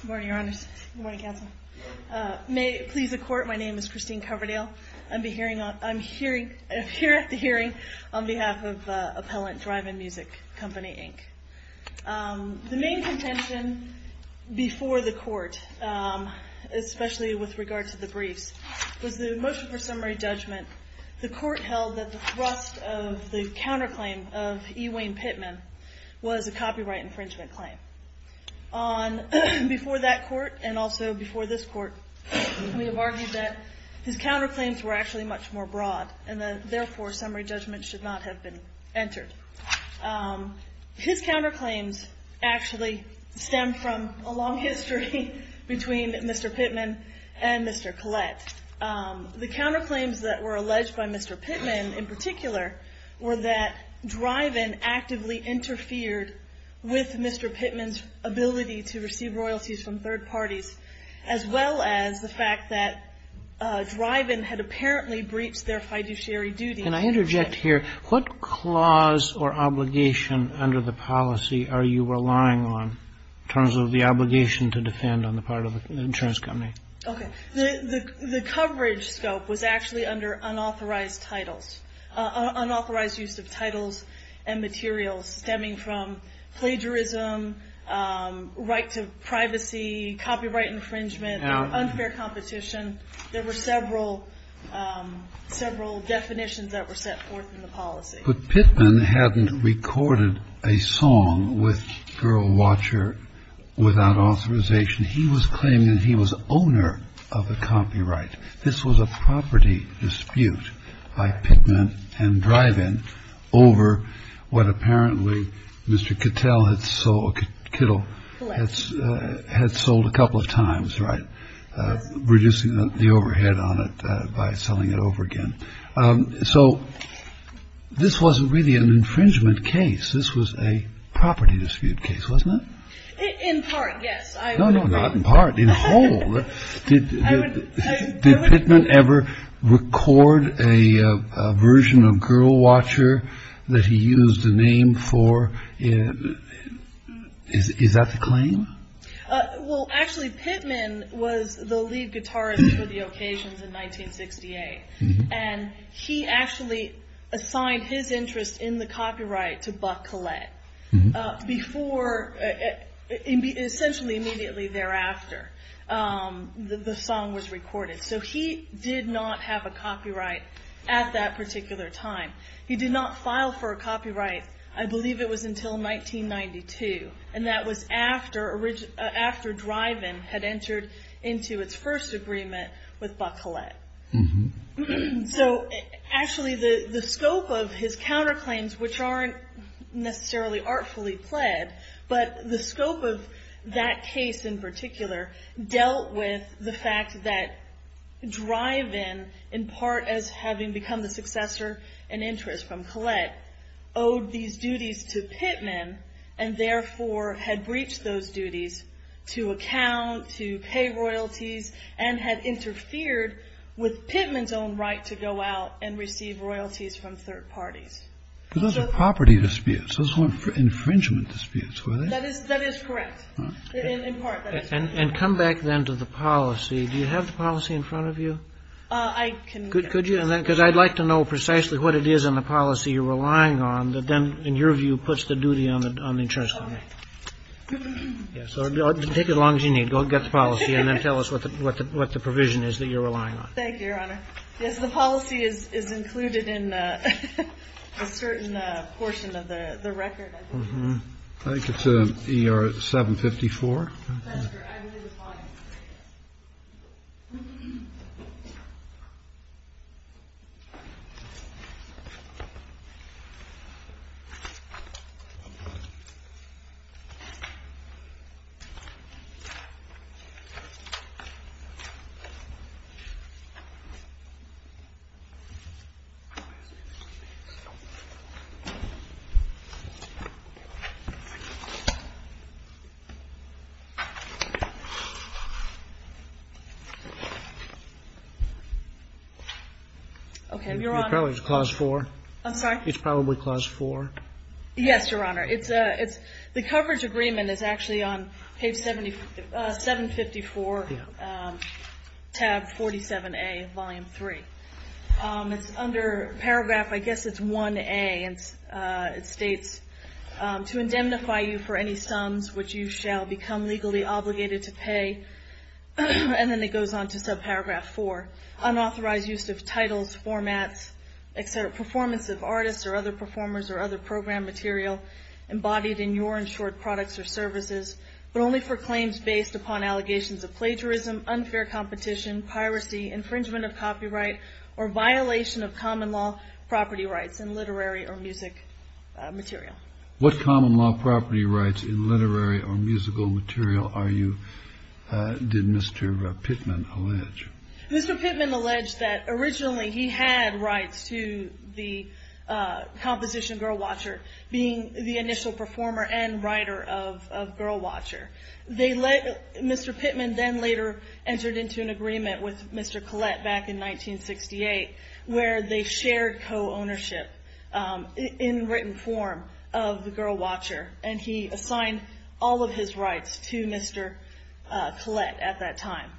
Good morning, Your Honors. Good morning, Counsel. May it please the Court, my name is Christine Coverdale. I'm here at the hearing on behalf of Appellant DRIVE-IN MUSIC, Company, Inc. The main contention before the Court, especially with regard to the briefs, was the motion for summary judgment. The Court held that the thrust of the counterclaim of E. Wayne Pittman was a copyright infringement claim. Before that Court, and also before this Court, we have argued that his counterclaims were actually much more broad, and therefore, summary judgment should not have been entered. His counterclaims actually stem from a long history between Mr. Pittman and Mr. Collette. The counterclaims that were alleged by Mr. Pittman, in particular, were that DRIVE-IN actively interfered with Mr. Pittman's ability to receive royalties from third parties, as well as the fact that DRIVE-IN had apparently breached their fiduciary duties. Can I interject here? What clause or obligation under the policy are you relying on, in terms of the obligation to defend on the part of the insurance company? Okay. The coverage scope was actually under unauthorized titles, unauthorized use of titles and materials stemming from plagiarism, right to privacy, copyright infringement, unfair competition. There were several definitions that were set forth in the policy. But Pittman hadn't recorded a song with Girl Watcher without authorization. He was claiming that he was owner of the copyright. This was a property dispute by Pittman and DRIVE-IN over what apparently Mr. Kittel had sold a couple of times, reducing the overhead on it by selling it over again. So this wasn't really an infringement case. This was a property dispute case, wasn't it? In part, yes. No, no, not in part. In whole. Did Pittman ever record a version of Girl Watcher that he used a name for? Is that the claim? Well, actually, Pittman was the lead guitarist for the occasions in 1968. And he actually assigned his interest in the copyright to Buck Collette before, essentially immediately thereafter, the song was recorded. So he did not have a copyright at that particular time. He did not file for a copyright, I believe it was until 1992. And that was after DRIVE-IN had entered into its first agreement with Buck Collette. So actually, the scope of his counterclaims, which aren't necessarily artfully pled, but the scope of that case in particular, dealt with the fact that DRIVE-IN, in part as having become the successor and interest from Collette, owed these duties to Pittman, and therefore had breached those duties to account, to pay royalties, and had interfered with Pittman's own right to go out and receive royalties from third parties. Those are property disputes. Those weren't infringement disputes, were they? That is correct. In part, that is correct. And come back then to the policy. Do you have the policy in front of you? I can get it. Could you? Because I'd like to know precisely what it is in the policy you're relying on that then, in your view, puts the duty on the insurance company. Take as long as you need. Go get the policy and then tell us what the provision is that you're relying on. Thank you, Your Honor. Yes, the policy is included in a certain portion of the record. I think it's ER 754. Thank you, Your Honor. Okay, Your Honor. It's probably Clause 4. I'm sorry? It's probably Clause 4. Yes, Your Honor. The coverage agreement is actually on page 754, tab 47A, Volume 3. It's under paragraph, I guess it's 1A. It states, to indemnify you for any sums which you shall become legally obligated to pay. And then it goes on to subparagraph 4. Unauthorized use of titles, formats, etc., performance of artists or other performers or other program material embodied in your insured products or services, but only for claims based upon allegations of plagiarism, unfair competition, piracy, infringement of copyright, or violation of common law property rights in literary or music material. What common law property rights in literary or musical material are you, did Mr. Pittman allege? Mr. Pittman alleged that originally he had rights to the composition Girl Watcher, being the initial performer and writer of Girl Watcher. Mr. Pittman then later entered into an agreement with Mr. Collette back in 1968 where they shared co-ownership in written form of the Girl Watcher, and he assigned all of his rights to Mr. Collette at that time.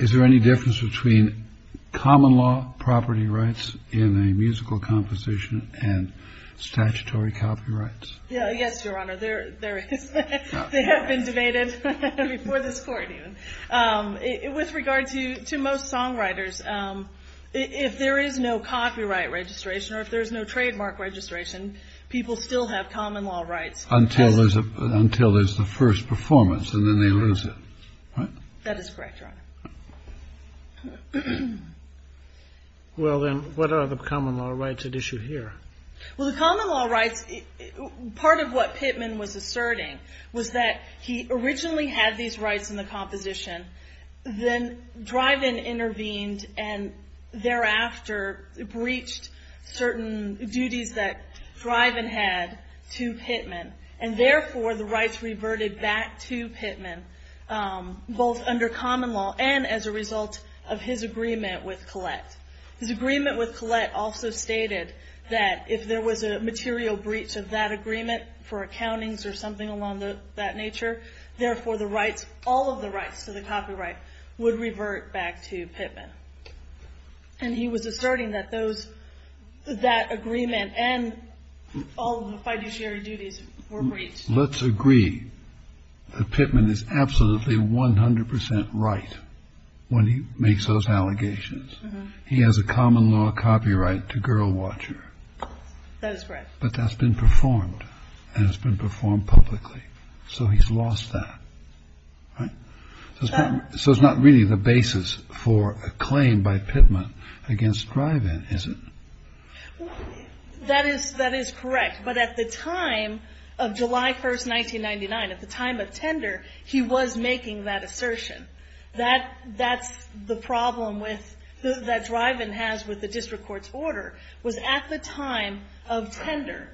Is there any difference between common law property rights in a musical composition and statutory copyrights? Yes, Your Honor, there is. They have been debated before this court even. With regard to most songwriters, if there is no copyright registration or if there is no trademark registration, people still have common law rights. Until there's the first performance, and then they lose it, right? That is correct, Your Honor. Well then, what are the common law rights at issue here? Well, the common law rights, part of what Pittman was asserting was that he originally had these rights in the composition. Then Driven intervened and thereafter breached certain duties that Driven had to Pittman, and therefore the rights reverted back to Pittman, both under common law and as a result of his agreement with Collette. His agreement with Collette also stated that if there was a material breach of that agreement for accountings or something along that nature, therefore all of the rights to the copyright would revert back to Pittman. And he was asserting that that agreement and all of the fiduciary duties were breached. Let's agree that Pittman is absolutely 100% right when he makes those allegations. He has a common law copyright to Girl Watcher. That is correct. But that's been performed, and it's been performed publicly. So he's lost that, right? So it's not really the basis for a claim by Pittman against Driven, is it? That is correct. But at the time of July 1, 1999, at the time of tender, he was making that assertion. That's the problem that Driven has with the district court's order, was at the time of tender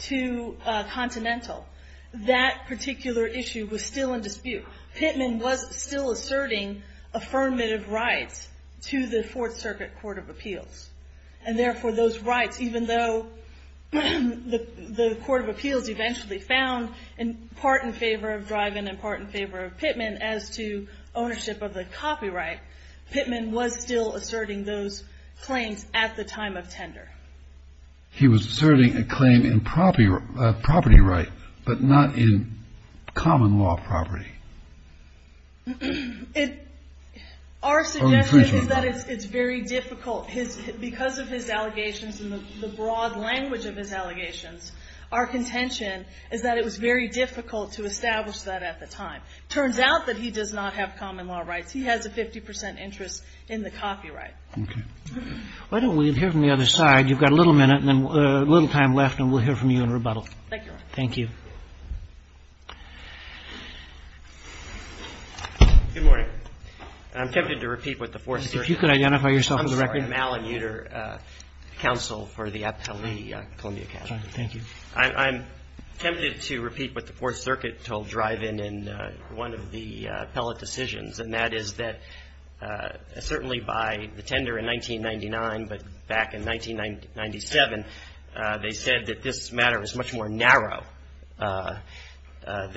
to Continental, that particular issue was still in dispute. Pittman was still asserting affirmative rights to the Fourth Circuit Court of Appeals, and therefore those rights, even though the Court of Appeals eventually found part in favor of Driven and part in favor of Pittman as to ownership of the copyright, Pittman was still asserting those claims at the time of tender. He was asserting a claim in property right, but not in common law property. Our suggestion is that it's very difficult. Because of his allegations and the broad language of his allegations, our contention is that it was very difficult to establish that at the time. It turns out that he does not have common law rights. He has a 50 percent interest in the copyright. Okay. Why don't we hear from the other side? You've got a little minute and then a little time left, and we'll hear from you in rebuttal. Thank you, Your Honor. Thank you. Good morning. I'm tempted to repeat what the Fourth Circuit told Driven in one of the appellate decisions, and that is that certainly by the tender in 1999, but back in 1997, they said that this matter is much more narrow than it was before.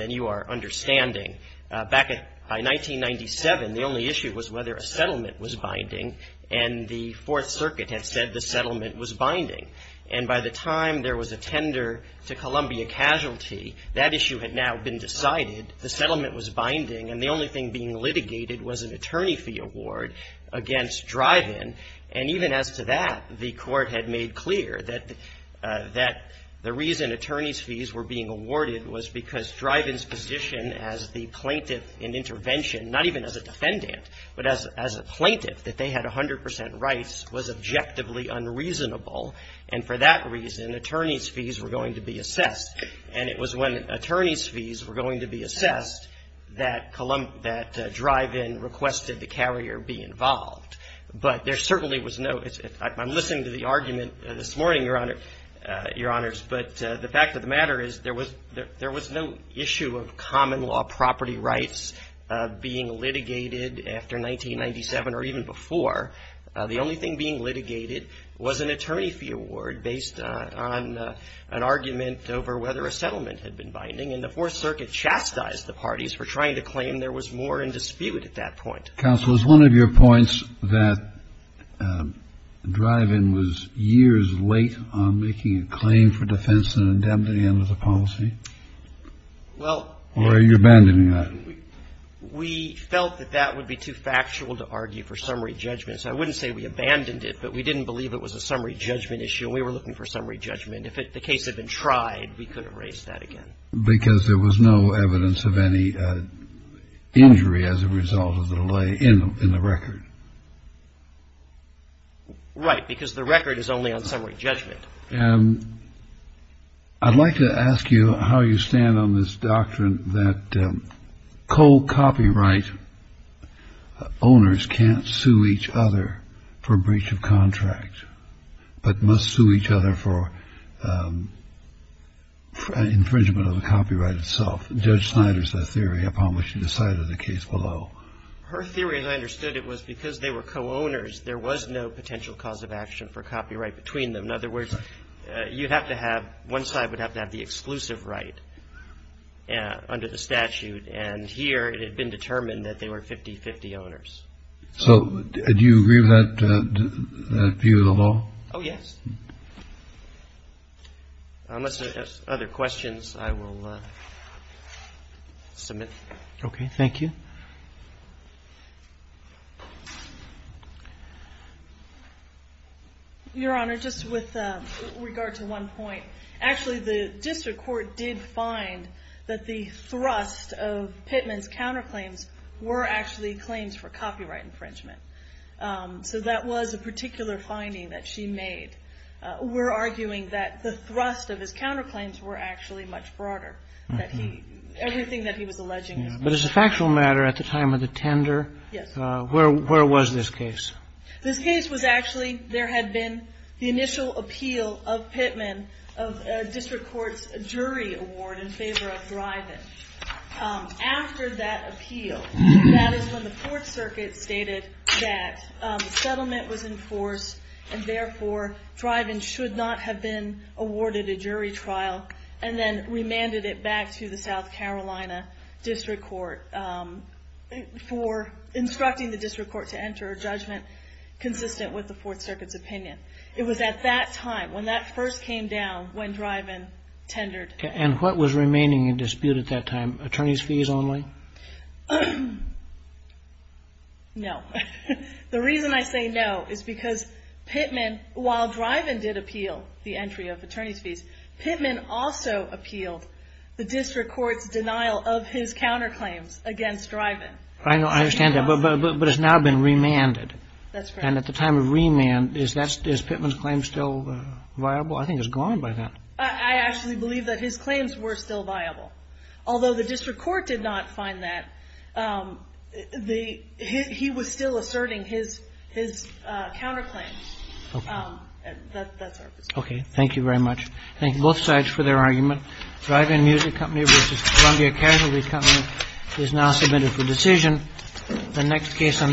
And by the time there was a tender to Columbia Casualty, that issue had now been decided. The settlement was binding, and the only thing being litigated was an attorney fee award against Driven. And even as to that, the Court had made clear that the reason attorneys' fees were being awarded was because the settlement was binding. The reason attorneys' fees were being awarded was because Driven's position as the plaintiff in intervention, not even as a defendant, but as a plaintiff, that they had 100 percent rights, was objectively unreasonable. And for that reason, attorneys' fees were going to be assessed. And it was when attorneys' fees were going to be assessed that Driven requested the carrier be involved. But there certainly was no – I'm listening to the argument this morning, Your Honor, but the fact of the matter is there was no issue of common law property rights being litigated after 1997 or even before. The only thing being litigated was an attorney fee award based on an argument over whether a settlement had been binding. And the Fourth Circuit chastised the parties for trying to claim there was more in dispute at that point. Kennedy. Counsel, is one of your points that Driven was years late on making a claim for defense and an indemnity under the policy? Or are you abandoning that? We felt that that would be too factual to argue for summary judgment. So I wouldn't say we abandoned it, but we didn't believe it was a summary judgment issue, and we were looking for summary judgment. If the case had been tried, we could have raised that again. Because there was no evidence of any injury as a result of the delay in the record. Right, because the record is only on summary judgment. I'd like to ask you how you stand on this doctrine that co-copyright owners can't sue each other for breach of contract but must sue each other for infringement of the copyright itself. Judge Snyder's theory upon which you decided the case below. Her theory, as I understood it, was because they were co-owners, there was no potential cause of action for copyright between them. In other words, you'd have to have one side would have to have the exclusive right under the statute. And here it had been determined that they were 50-50 owners. So do you agree with that view of the law? Oh, yes. Unless there are other questions, I will submit. Okay, thank you. Your Honor, just with regard to one point. Actually, the district court did find that the thrust of Pittman's counterclaims were actually claims for copyright infringement. So that was a particular finding that she made. We're arguing that the thrust of his counterclaims were actually much broader. Everything that he was alleging was broader. But as a factual matter, at the time of the tender, where was this case? This case was actually, there had been the initial appeal of Pittman of district court's jury award in favor of Thriven. After that appeal, that is when the Fourth Circuit stated that settlement was in force and therefore Thriven should not have been awarded a jury trial and then remanded it back to the South Carolina district court for instructing the district court to enter a judgment consistent with the Fourth Circuit's opinion. It was at that time, when that first came down, when Thriven tendered. And what was remaining in dispute at that time? Attorney's fees only? No. The reason I say no is because Pittman, while Thriven did appeal the entry of attorney's fees, Pittman also appealed the district court's denial of his counterclaims against Thriven. I understand that, but it's now been remanded. And at the time of remand, is Pittman's claim still viable? I think it's gone by then. I actually believe that his claims were still viable. Although the district court did not find that, he was still asserting his counterclaims. Okay. That's our position. Okay. Thank you very much. Thank both sides for their argument. Thriven Music Company v. Columbia Casualty Company is now submitted for decision. The next case on the